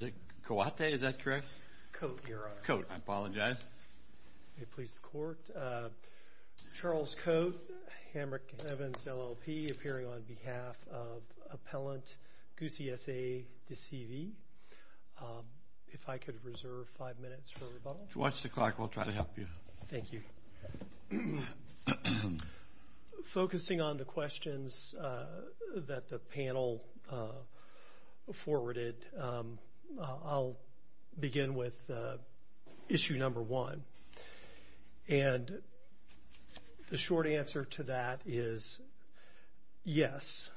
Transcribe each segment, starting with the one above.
Is it Coate? Is that correct? Coate, Your Honor. Coate. I apologize. May it please the Court. Charles Coate, Hamrick Evans, LLP, appearing on behalf of appellant Gussi, S.A. de C.V. If I could reserve five minutes for rebuttal. Watch the clock. We'll try to help you. Thank you. Focusing on the questions that the panel forwarded, I'll begin with issue number one. And the short answer to that is yes,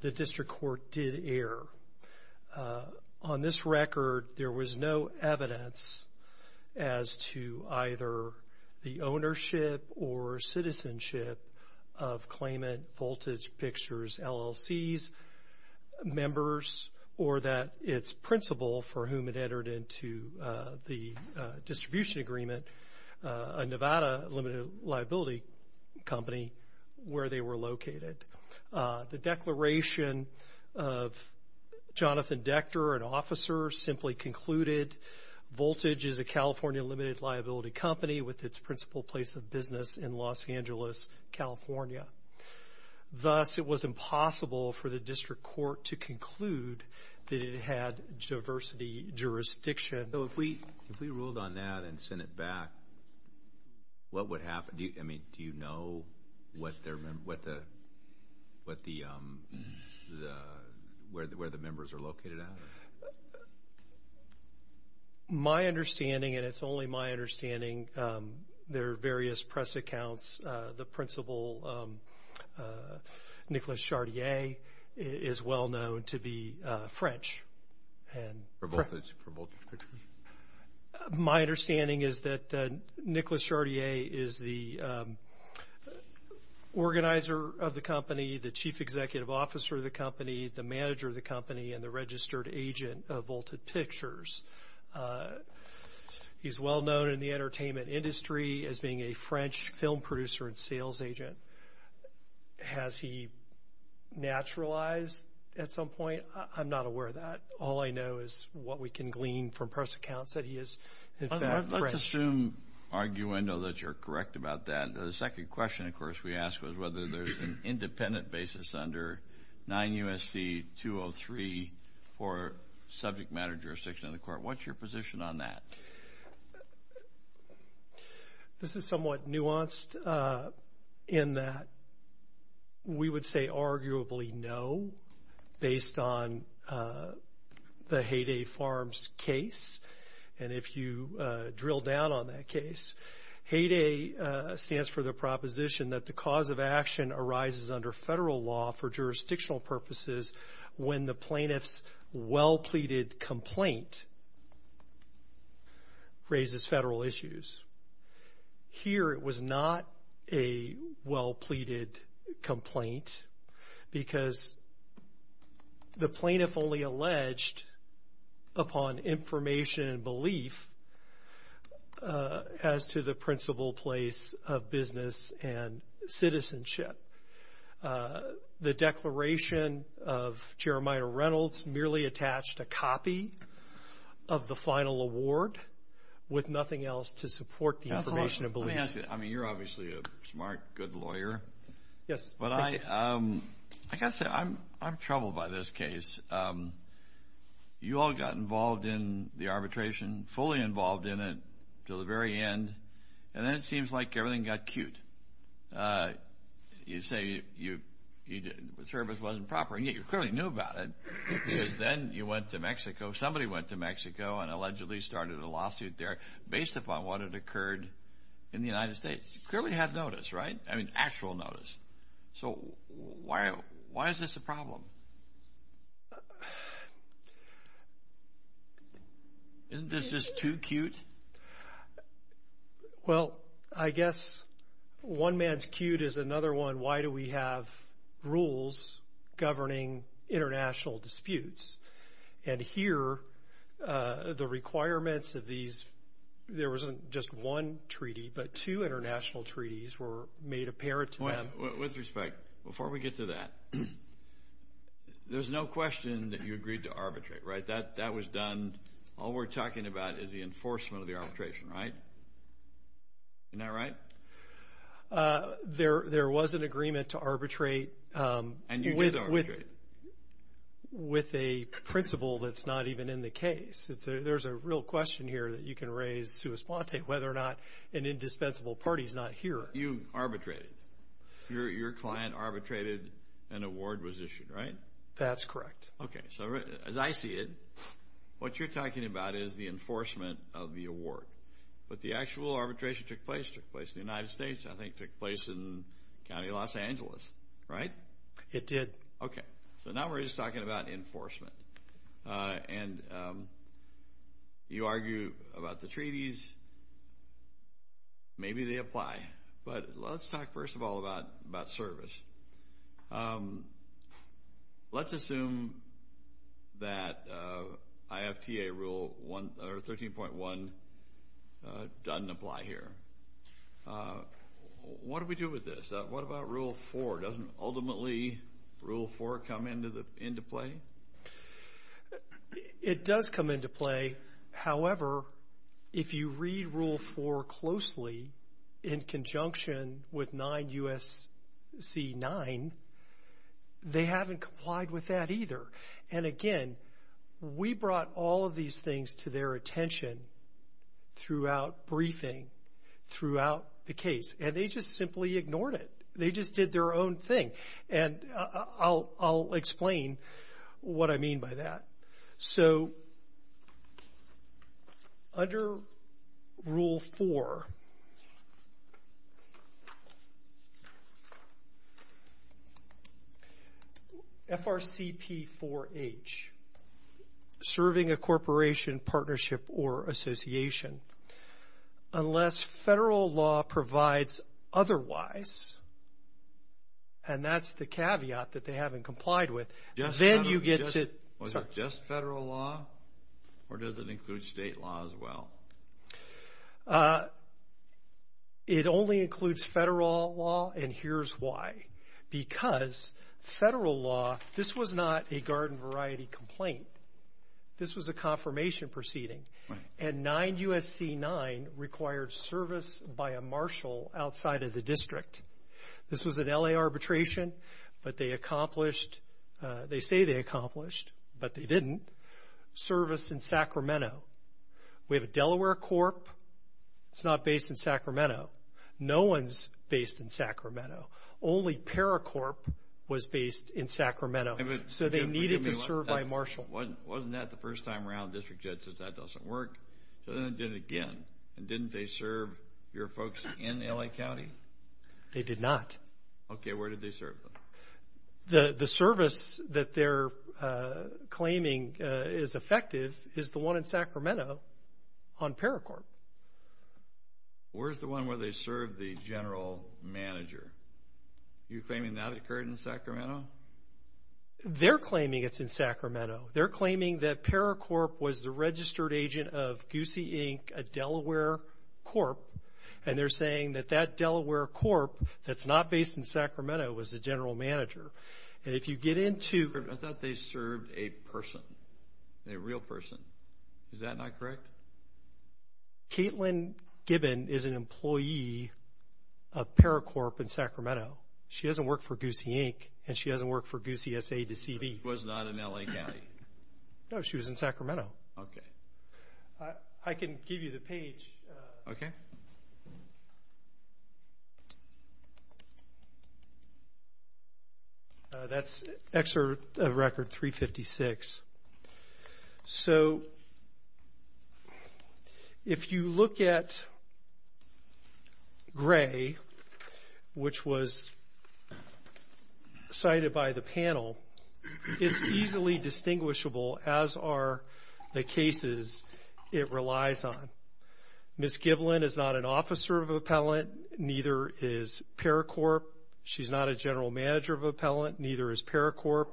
the district court did err. On this record, there was no evidence as to either the ownership or citizenship of Claimant Voltage Pictures, LLC's members or that its principal for whom it entered into the distribution agreement, a Nevada limited liability company, where they were located. The declaration of Jonathan Dechter, an officer, simply concluded, Voltage is a California limited liability company with its principal place of business in Los Angeles, California. Thus, it was impossible for the district court to conclude that it had diversity jurisdiction. So if we ruled on that and sent it back, what would happen? Do you know where the members are located at? My understanding, and it's only my understanding, there are various press accounts. The principal, Nicholas Chartier, is well known to be French. For Voltage? My understanding is that Nicholas Chartier is the organizer of the company, the chief executive officer of the company, the manager of the company, and the registered agent of Voltage Pictures. He's well known in the entertainment industry as being a French film producer and sales agent. Has he naturalized at some point? I'm not aware of that. All I know is what we can glean from press accounts that he is, in fact, French. Let's assume, arguendo, that you're correct about that. The second question, of course, we asked was whether there's an independent basis under 9 U.S.C. 203 for subject matter jurisdiction in the court. What's your position on that? This is somewhat nuanced in that we would say arguably no, based on the Hay Day Farms case, and if you drill down on that case. Hay Day stands for the proposition that the cause of action arises under federal law for jurisdictional purposes when the plaintiff's well-pleaded complaint raises federal issues. Here it was not a well-pleaded complaint because the plaintiff only alleged upon information and belief as to the principal place of business and citizenship. The declaration of Jeremiah Reynolds merely attached a copy of the final award with nothing else to support the information and belief. Let me ask you. I mean, you're obviously a smart, good lawyer. Yes. But I got to say, I'm troubled by this case. You all got involved in the arbitration, fully involved in it until the very end, and then it seems like everything got cute. You say the service wasn't proper, and yet you clearly knew about it, because then you went to Mexico, somebody went to Mexico and allegedly started a lawsuit there based upon what had occurred in the United States. You clearly had notice, right? I mean, actual notice. So why is this a problem? Isn't this just too cute? Well, I guess one man's cute is another one, why do we have rules governing international disputes? And here the requirements of these, there wasn't just one treaty, but two international treaties were made apparent to them. With respect, before we get to that, there's no question that you agreed to arbitrate, right? That was done, all we're talking about is the enforcement of the arbitration, right? Isn't that right? There was an agreement to arbitrate. And you did arbitrate. With a principle that's not even in the case. There's a real question here that you can raise, Suus Pante, whether or not an indispensable party's not here. You arbitrated. Your client arbitrated, an award was issued, right? That's correct. Okay, so as I see it, what you're talking about is the enforcement of the award. But the actual arbitration took place in the United States, I think took place in the county of Los Angeles, right? It did. Okay, so now we're just talking about enforcement. And you argue about the treaties. Maybe they apply. But let's talk first of all about service. Let's assume that IFTA Rule 13.1 doesn't apply here. What do we do with this? What about Rule 4? Doesn't ultimately Rule 4 come into play? It does come into play. However, if you read Rule 4 closely in conjunction with 9 U.S.C. 9, they haven't complied with that either. And, again, we brought all of these things to their attention throughout briefing, throughout the case. And they just simply ignored it. They just did their own thing. And I'll explain what I mean by that. So under Rule 4, FRCP 4H, serving a corporation, partnership, or association, unless federal law provides otherwise, and that's the caveat that they haven't complied with. Was it just federal law, or does it include state law as well? It only includes federal law, and here's why. Because federal law, this was not a garden variety complaint. This was a confirmation proceeding. And 9 U.S.C. 9 required service by a marshal outside of the district. This was an L.A. arbitration, but they accomplished, they say they accomplished, but they didn't, service in Sacramento. We have a Delaware Corp. It's not based in Sacramento. No one's based in Sacramento. Only Paracorp was based in Sacramento. So they needed to serve by marshal. Wasn't that the first time around the district judge says that doesn't work? So then they did it again. And didn't they serve your folks in L.A. County? They did not. Okay, where did they serve them? The service that they're claiming is effective is the one in Sacramento on Paracorp. Where's the one where they serve the general manager? You're claiming that occurred in Sacramento? They're claiming it's in Sacramento. They're claiming that Paracorp was the registered agent of Goosey, Inc., a Delaware Corp., and they're saying that that Delaware Corp. that's not based in Sacramento was the general manager. And if you get into. I thought they served a person, a real person. Is that not correct? Caitlin Gibbon is an employee of Paracorp in Sacramento. She doesn't work for Goosey, Inc., and she doesn't work for Goosey, S.A. to C.V. She was not in L.A. County? No, she was in Sacramento. Okay. I can give you the page. Okay. That's record 356. So if you look at Gray, which was cited by the panel, it's easily distinguishable, as are the cases it relies on. Ms. Gibbon is not an officer of appellant. Neither is Paracorp. She's not a general manager of appellant. Neither is Paracorp.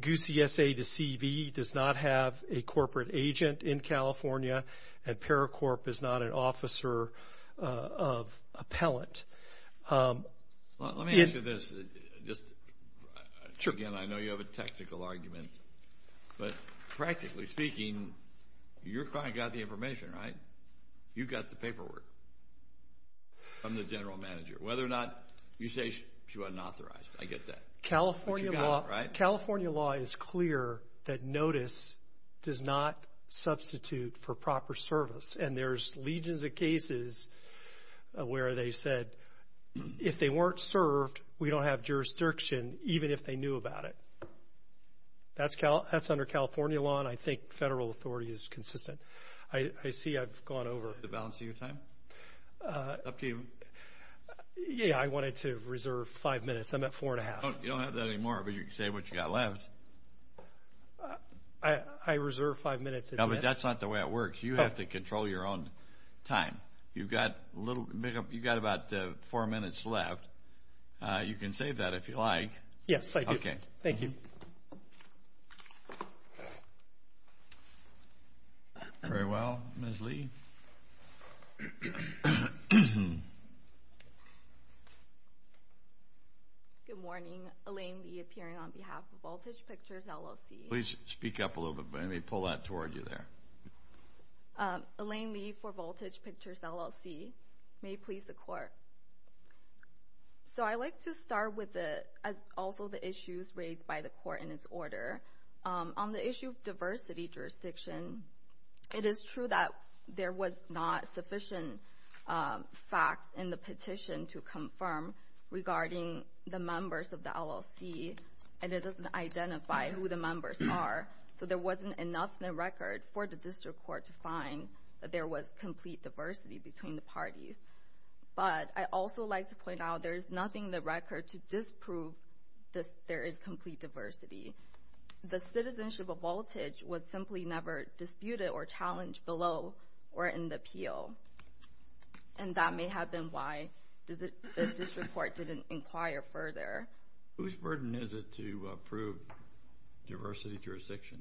Goosey, S.A. to C.V. does not have a corporate agent in California, and Paracorp is not an officer of appellant. Let me ask you this. Again, I know you have a technical argument, but practically speaking, your client got the information, right? You got the paperwork from the general manager. Whether or not you say she wasn't authorized, I get that. California law is clear that notice does not substitute for proper service, and there's legions of cases where they said if they weren't served, we don't have jurisdiction, even if they knew about it. That's under California law, and I think federal authority is consistent. I see I've gone over. Did you flip the balance of your time? Up to you. Yeah, I wanted to reserve five minutes. I'm at four and a half. You don't have that anymore, but you can save what you've got left. I reserve five minutes. No, but that's not the way it works. You have to control your own time. You've got about four minutes left. You can save that if you like. Yes, I do. Okay. Thank you. Thank you. Very well. Ms. Lee. Good morning. Elaine Lee appearing on behalf of Voltage Pictures, LLC. Please speak up a little bit, and they pull that toward you there. Elaine Lee for Voltage Pictures, LLC. May it please the Court. So I like to start with also the issues raised by the Court in its order. On the issue of diversity jurisdiction, it is true that there was not sufficient facts in the petition to confirm regarding the members of the LLC, and it doesn't identify who the members are. So there wasn't enough in the record for the district court to find that there was complete diversity between the parties. But I'd also like to point out there is nothing in the record to disprove that there is complete diversity. The citizenship of Voltage was simply never disputed or challenged below or in the appeal, and that may have been why the district court didn't inquire further. Whose burden is it to approve diversity jurisdiction?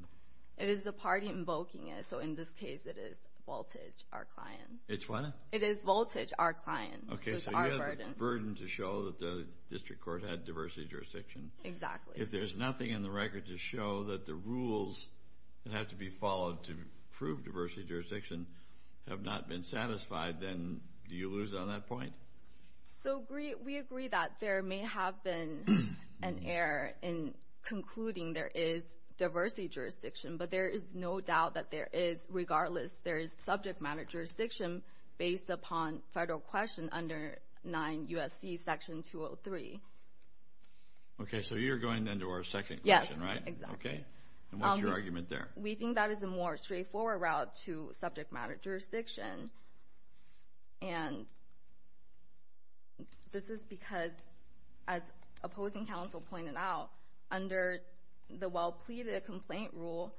It is the party invoking it. So in this case, it is Voltage, our client. It's what? It is Voltage, our client. Okay, so you have the burden to show that the district court had diversity jurisdiction. Exactly. If there's nothing in the record to show that the rules that have to be followed to prove diversity jurisdiction have not been satisfied, then do you lose on that point? So we agree that there may have been an error in concluding there is diversity jurisdiction, but there is no doubt that there is, regardless, there is subject matter jurisdiction based upon federal question under 9 U.S.C. Section 203. Okay, so you're going then to our second question, right? Yes, exactly. Okay, and what's your argument there? We think that is a more straightforward route to subject matter jurisdiction, and this is because, as opposing counsel pointed out, under the well-pleaded complaint rule,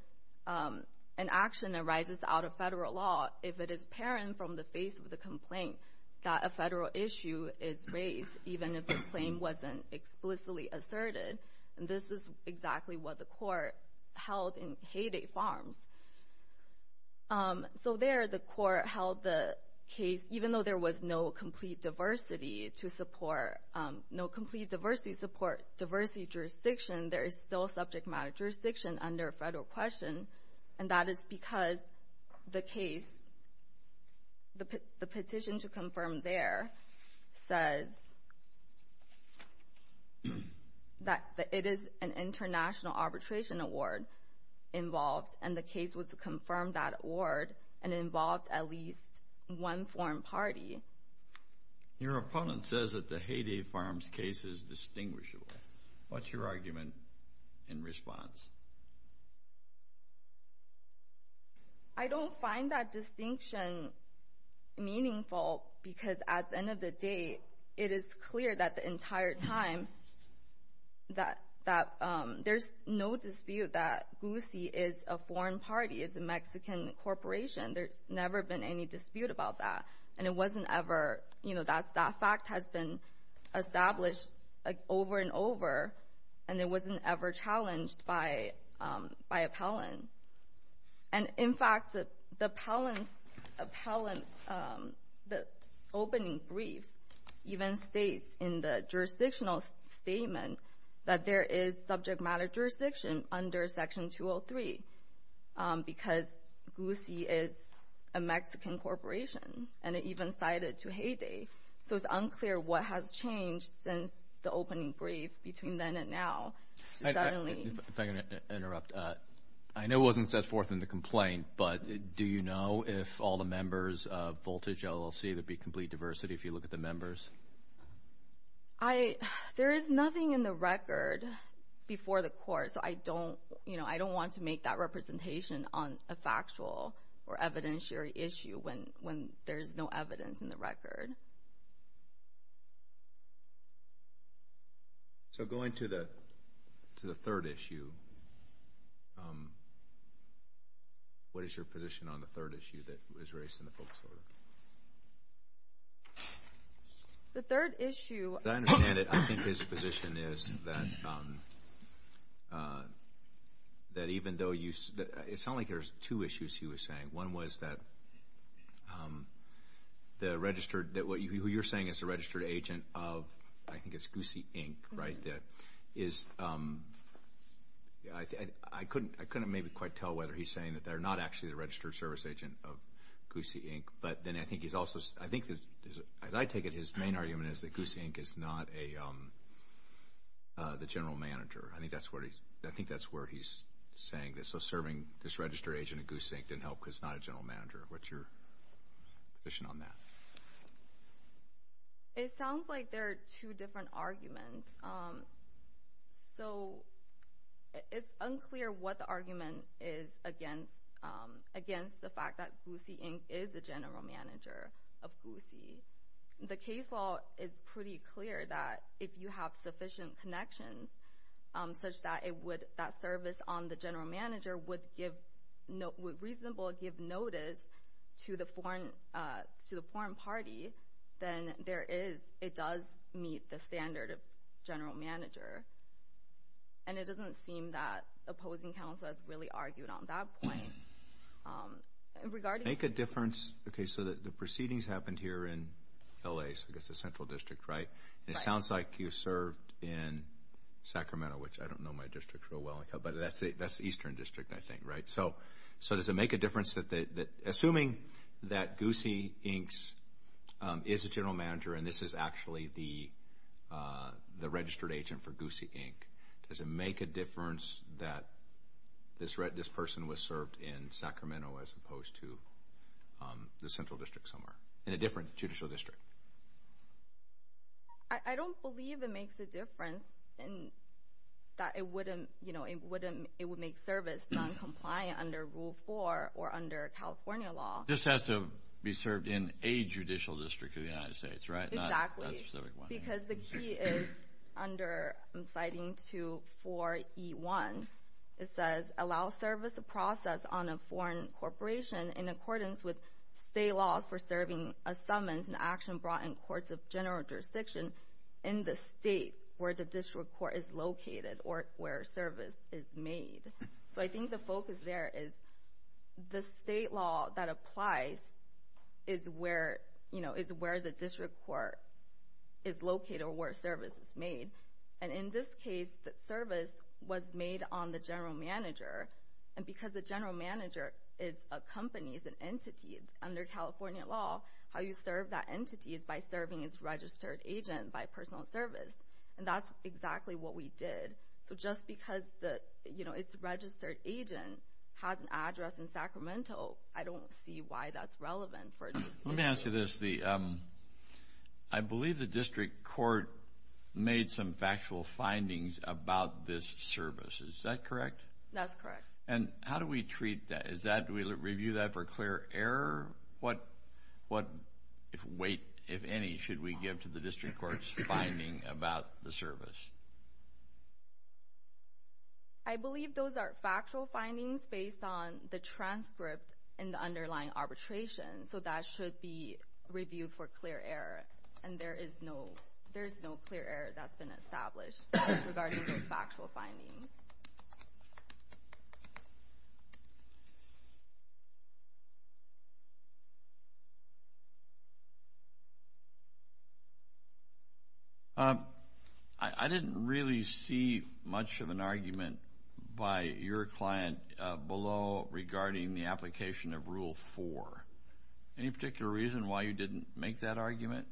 an action arises out of federal law if it is apparent from the face of the complaint that a federal issue is raised, even if the claim wasn't explicitly asserted. And this is exactly what the court held in Hay Day Farms. So there the court held the case, even though there was no complete diversity to support, no complete diversity to support diversity jurisdiction, there is still subject matter jurisdiction under federal question, and that is because the case, the petition to confirm there, says that it is an international arbitration award involved, and the case was to confirm that award and involved at least one foreign party. Your opponent says that the Hay Day Farms case is distinguishable. What's your argument in response? I don't find that distinction meaningful because, at the end of the day, it is clear that the entire time that there's no dispute that GUSI is a foreign party, it's a Mexican corporation, there's never been any dispute about that, and it wasn't ever, you know, that fact has been established over and over, and it wasn't ever challenged by appellant. And, in fact, the appellant's opening brief even states in the jurisdictional statement that there is subject matter jurisdiction under Section 203 because GUSI is a Mexican corporation, and it even cited to Hay Day. So it's unclear what has changed since the opening brief between then and now. If I can interrupt. I know it wasn't set forth in the complaint, but do you know if all the members of Voltage LLC, there'd be complete diversity, if you look at the members? There is nothing in the record before the court, so I don't want to make that representation on a factual or evidentiary issue when there's no evidence in the record. So going to the third issue, what is your position on the third issue that was raised in the focus order? The third issue— that even though you—it sounded like there's two issues he was saying. One was that the registered—that who you're saying is the registered agent of, I think it's GUSI, Inc., right, that is— I couldn't maybe quite tell whether he's saying that they're not actually the registered service agent of GUSI, Inc., but then I think he's also—I think, as I take it, his main argument is that GUSI, Inc. is not the general manager. I think that's where he's saying this. So serving this registered agent at GUSI, Inc. didn't help because it's not a general manager. What's your position on that? It sounds like there are two different arguments. So it's unclear what the argument is against the fact that GUSI, Inc. is the general manager of GUSI. The case law is pretty clear that if you have sufficient connections such that it would—that service on the general manager would give— would reasonably give notice to the foreign party, then there is—it does meet the standard of general manager. And it doesn't seem that opposing counsel has really argued on that point. Make a difference—okay, so the proceedings happened here in L.A., so I guess the central district, right? And it sounds like you served in Sacramento, which I don't know my district real well, but that's the eastern district, I think, right? So does it make a difference that—assuming that GUSI, Inc. is a general manager and this is actually the registered agent for GUSI, Inc., does it make a difference that this person was served in Sacramento as opposed to the central district somewhere, in a different judicial district? I don't believe it makes a difference that it wouldn't— it would make service noncompliant under Rule 4 or under California law. This has to be served in a judicial district of the United States, right? Exactly. Because the key is under—I'm citing to 4E1. It says, allow service process on a foreign corporation in accordance with state laws for serving a summons and action brought in courts of general jurisdiction in the state where the district court is located or where service is made. So I think the focus there is the state law that applies is where the district court is located or where service is made. And in this case, the service was made on the general manager. And because the general manager is a company, is an entity under California law, how you serve that entity is by serving its registered agent by personal service. And that's exactly what we did. So just because its registered agent has an address in Sacramento, I don't see why that's relevant for— Let me ask you this. I believe the district court made some factual findings about this service. Is that correct? That's correct. And how do we treat that? Is that—do we review that for clear error? What weight, if any, should we give to the district court's finding about the service? I believe those are factual findings based on the transcript and the underlying arbitration. So that should be reviewed for clear error. And there is no clear error that's been established regarding those factual findings. I didn't really see much of an argument by your client below regarding the application of Rule 4. Any particular reason why you didn't make that argument?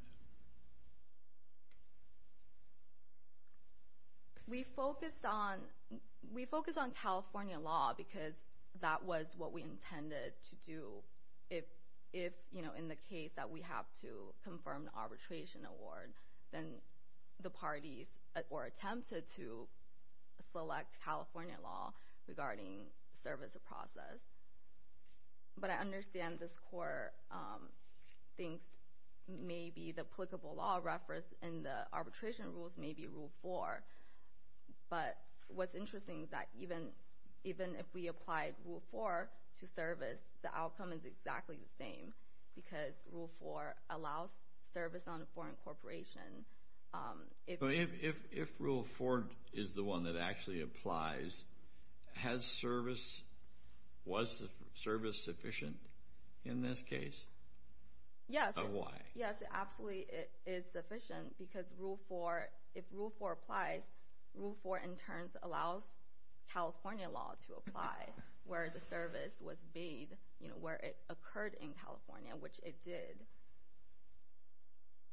We focused on California law because that was what we intended to do. If, you know, in the case that we have to confirm the arbitration award, then the parties were attempted to select California law regarding service process. But I understand this court thinks maybe the applicable law reference in the arbitration rules may be Rule 4. But what's interesting is that even if we applied Rule 4 to service, the outcome is exactly the same because Rule 4 allows service on a foreign corporation. If Rule 4 is the one that actually applies, has service—was service sufficient in this case? Yes. Why? Yes, it absolutely is sufficient because if Rule 4 applies, Rule 4 in turn allows California law to apply where the service was made, you know, where it occurred in California, which it did.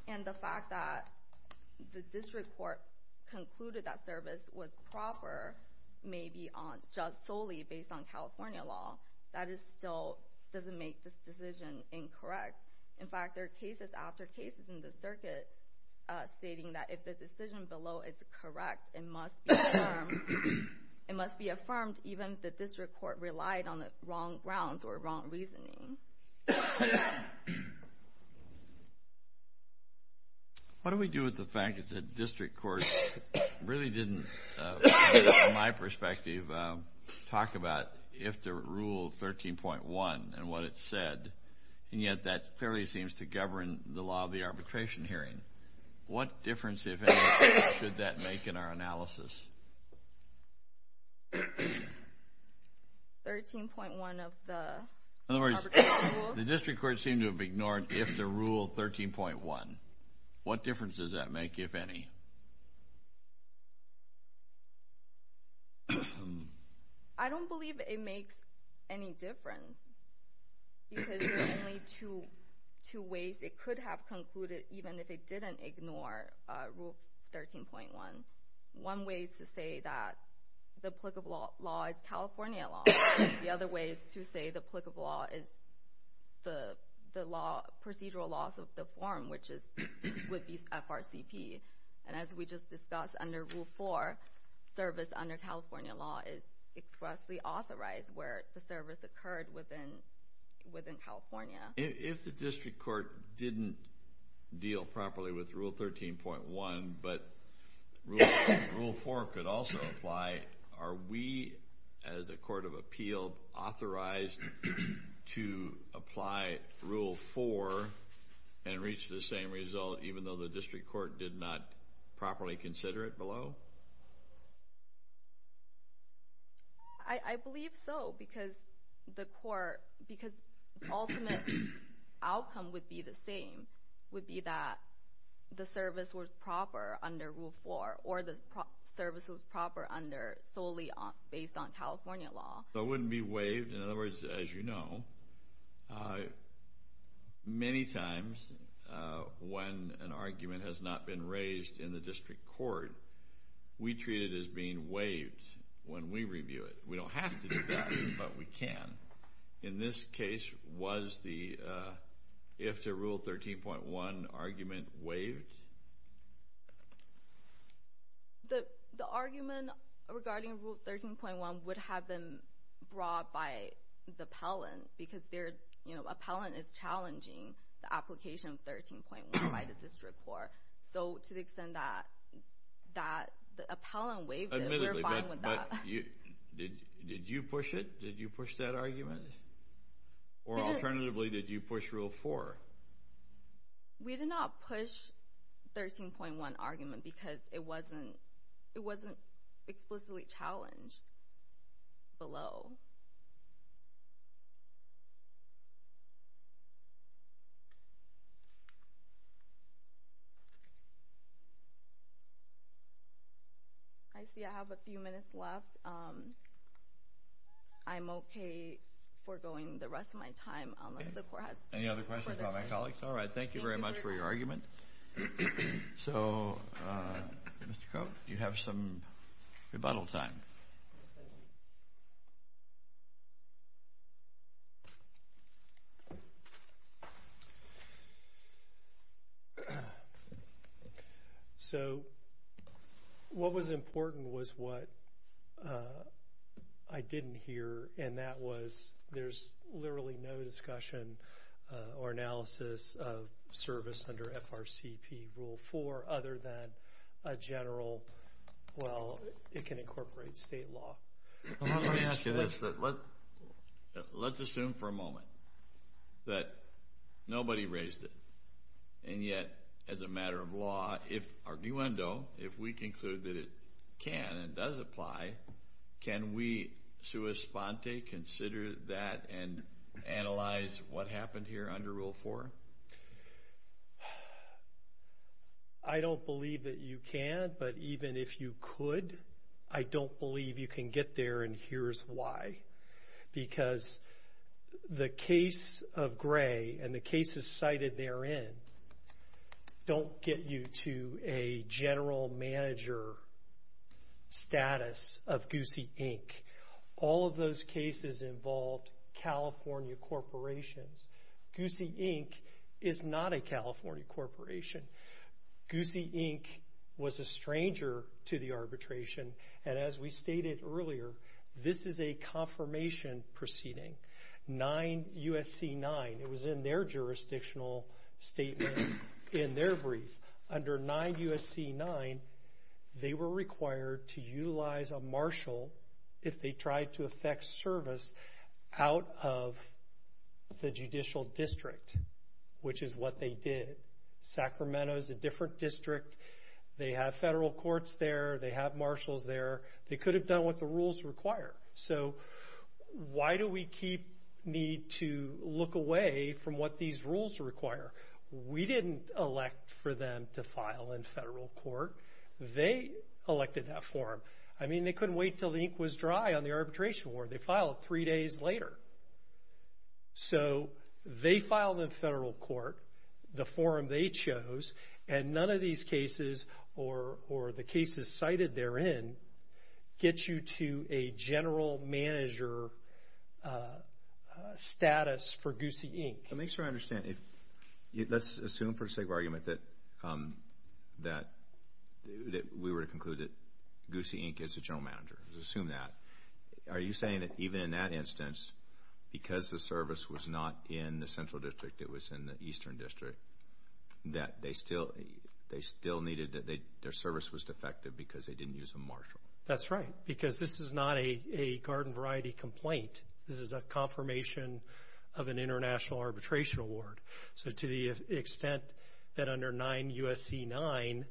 And the fact that the district court concluded that service was proper, maybe just solely based on California law, that still doesn't make this decision incorrect. In fact, there are cases after cases in the circuit stating that if the decision below is correct, it must be affirmed even if the district court relied on the wrong grounds or wrong reasoning. What do we do with the fact that the district court really didn't, in my perspective, talk about if the Rule 13.1 and what it said? And yet that clearly seems to govern the law of the arbitration hearing. What difference, if any, should that make in our analysis? 13.1 of the arbitration rules? In other words, the district court seemed to have ignored if the Rule 13.1. What difference does that make, if any? I don't believe it makes any difference because there are only two ways it could have concluded even if it didn't ignore Rule 13.1. One way is to say that the applicable law is California law. The other way is to say the applicable law is the procedural laws of the forum, which would be FRCP. And as we just discussed under Rule 4, service under California law is expressly authorized where the service occurred within California. If the district court didn't deal properly with Rule 13.1, but Rule 4 could also apply, are we, as a court of appeal, authorized to apply Rule 4 and reach the same result even though the district court did not properly consider it below? I believe so because the ultimate outcome would be the same, would be that the service was proper under Rule 4 or the service was proper solely based on California law. It wouldn't be waived. In other words, as you know, many times when an argument has not been raised in the district court, we treat it as being waived when we review it. We don't have to do that, but we can. In this case, was the if to Rule 13.1 argument waived? The argument regarding Rule 13.1 would have been brought by the appellant because the appellant is challenging the application of 13.1 by the district court. So to the extent that the appellant waived it, we're fine with that. Did you push it? Did you push that argument? Or alternatively, did you push Rule 4? We did not push 13.1 argument because it wasn't explicitly challenged below. I see I have a few minutes left. I'm okay for going the rest of my time unless the court has further questions. Any other questions about my colleagues? All right. Thank you very much for your argument. So, Mr. Koch, you have some rebuttal time. Yes, thank you. So what was important was what I didn't hear, and that was there's literally no discussion or analysis of service under FRCP Rule 4 other than a general, well, it can incorporate state law. Let me ask you this. Let's assume for a moment that nobody raised it. And yet, as a matter of law, if arguendo, if we conclude that it can and does apply, can we sua sponte, consider that and analyze what happened here under Rule 4? I don't believe that you can, but even if you could, I don't believe you can get there and here's why. Because the case of Gray and the cases cited therein don't get you to a general manager status of Goosey, Inc. All of those cases involved California corporations. Goosey, Inc. is not a California corporation. Goosey, Inc. was a stranger to the arbitration, and as we stated earlier, this is a confirmation proceeding. 9 U.S.C. 9, it was in their jurisdictional statement in their brief. Under 9 U.S.C. 9, they were required to utilize a marshal if they tried to effect service out of the judicial district, which is what they did. Sacramento is a different district. They have federal courts there. They have marshals there. They could have done what the rules require. So why do we need to look away from what these rules require? We didn't elect for them to file in federal court. They elected that form. I mean, they couldn't wait until the ink was dry on the arbitration war. They filed it three days later. So they filed in federal court the form they chose, and none of these cases or the cases cited therein get you to a general manager status for Goosey, Inc. Let me make sure I understand. Let's assume for the sake of argument that we were to conclude that Goosey, Inc. is the general manager. Let's assume that. Are you saying that even in that instance, because the service was not in the central district, it was in the eastern district, that their service was defective because they didn't use a marshal? That's right, because this is not a garden variety complaint. This is a confirmation of an international arbitration award. So to the extent that under 9 U.S.C. 9,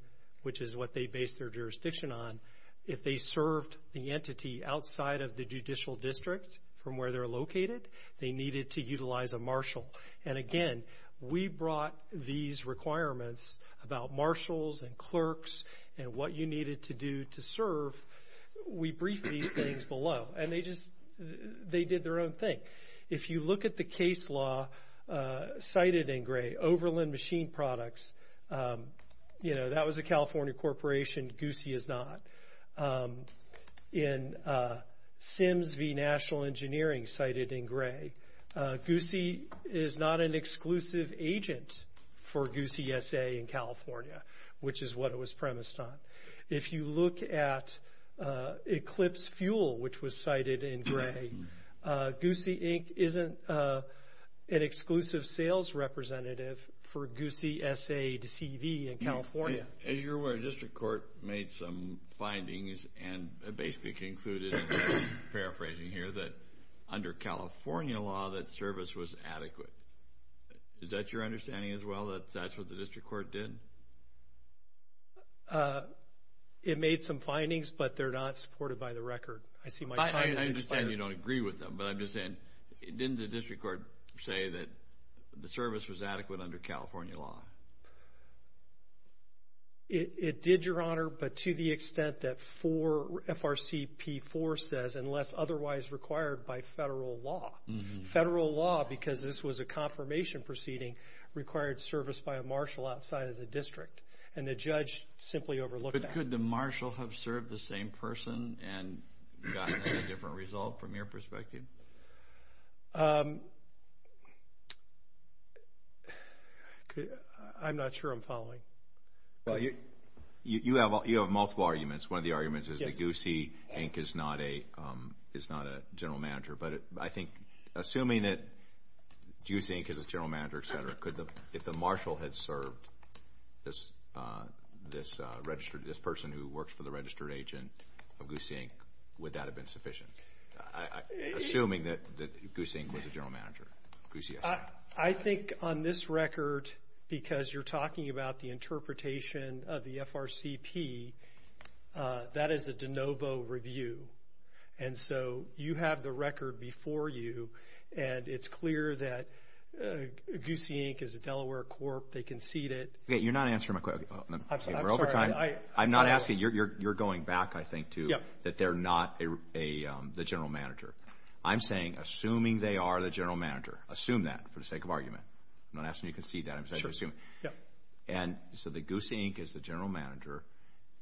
which is what they based their jurisdiction on, if they served the entity outside of the judicial district from where they're located, they needed to utilize a marshal. And, again, we brought these requirements about marshals and clerks and what you needed to do to serve. We briefed these things below, and they just did their own thing. If you look at the case law cited in gray, Overland Machine Products, that was a California corporation, Goosey is not. In Sims v. National Engineering cited in gray, Goosey is not an exclusive agent for Goosey S.A. in California, which is what it was premised on. If you look at Eclipse Fuel, which was cited in gray, Goosey Inc. isn't an exclusive sales representative for Goosey S.A. to CV in California. As you're aware, district court made some findings and basically concluded, paraphrasing here, that under California law that service was adequate. Is that your understanding as well, that that's what the district court did? It made some findings, but they're not supported by the record. I see my time has expired. I understand you don't agree with them, but I'm just saying, didn't the district court say that the service was adequate under California law? It did, Your Honor, but to the extent that FRCP4 says, unless otherwise required by federal law. Federal law, because this was a confirmation proceeding, required service by a marshal outside of the district, and the judge simply overlooked that. But could the marshal have served the same person and gotten a different result from your perspective? I'm not sure I'm following. You have multiple arguments. One of the arguments is that Goosey Inc. is not a general manager. But I think assuming that Goosey Inc. is a general manager, et cetera, if the marshal had served this person who works for the registered agent of Goosey Inc., would that have been sufficient? Assuming that Goosey Inc. was a general manager. Goosey, yes. I think on this record, because you're talking about the interpretation of the FRCP, that is a de novo review. And so you have the record before you, and it's clear that Goosey Inc. is a Delaware corp. They conceded. You're not answering my question. I'm sorry. We're over time. I'm not asking. You're going back, I think, to that they're not the general manager. I'm saying assuming they are the general manager, assume that for the sake of argument. I'm not asking you to concede that. I'm just asking you to assume. And so Goosey Inc. is the general manager,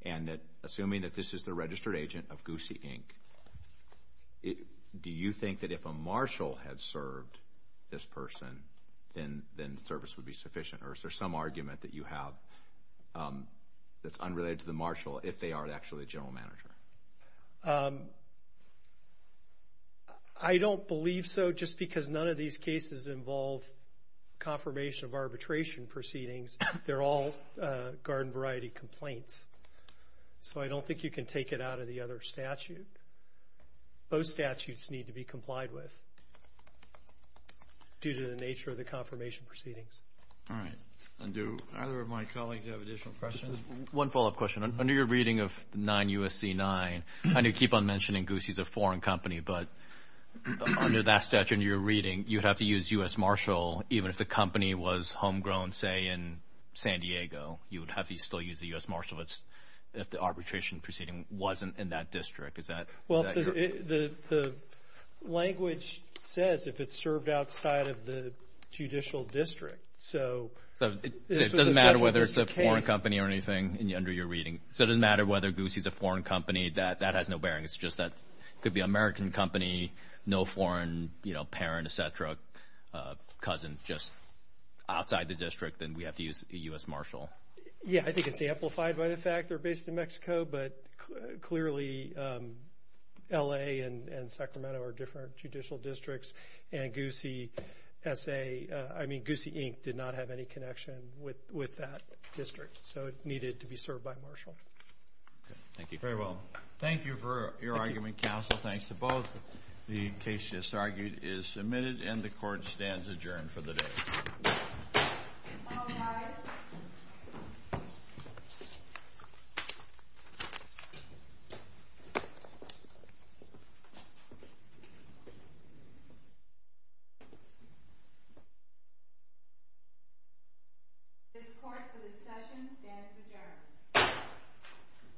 and assuming that this is the registered agent of Goosey Inc., do you think that if a marshal had served this person, then service would be sufficient? Or is there some argument that you have that's unrelated to the marshal? If they are actually the general manager. I don't believe so, just because none of these cases involve confirmation of arbitration proceedings. They're all garden variety complaints. So I don't think you can take it out of the other statute. Those statutes need to be complied with due to the nature of the confirmation proceedings. All right. And do either of my colleagues have additional questions? One follow-up question. Under your reading of 9 U.S.C. 9, I know you keep on mentioning Goosey is a foreign company, but under that statute in your reading, you'd have to use U.S. marshal, even if the company was homegrown, say, in San Diego. You would have to still use the U.S. marshal if the arbitration proceeding wasn't in that district. Is that correct? Well, the language says if it's served outside of the judicial district. So it doesn't matter whether it's a foreign company or anything under your reading. So it doesn't matter whether Goosey is a foreign company. That has no bearing. It's just that it could be an American company, no foreign parent, et cetera, cousin, just outside the district, and we have to use a U.S. marshal. Yeah, I think it's amplified by the fact they're based in Mexico, but clearly L.A. and Sacramento are different judicial districts, and Goosey, I mean, Goosey, Inc. did not have any connection with that district, so it needed to be served by marshal. Thank you. Very well. Thank you for your argument, counsel. Thanks to both. The case just argued is submitted, and the court stands adjourned for the day. All rise. This court, for discussion, stands adjourned.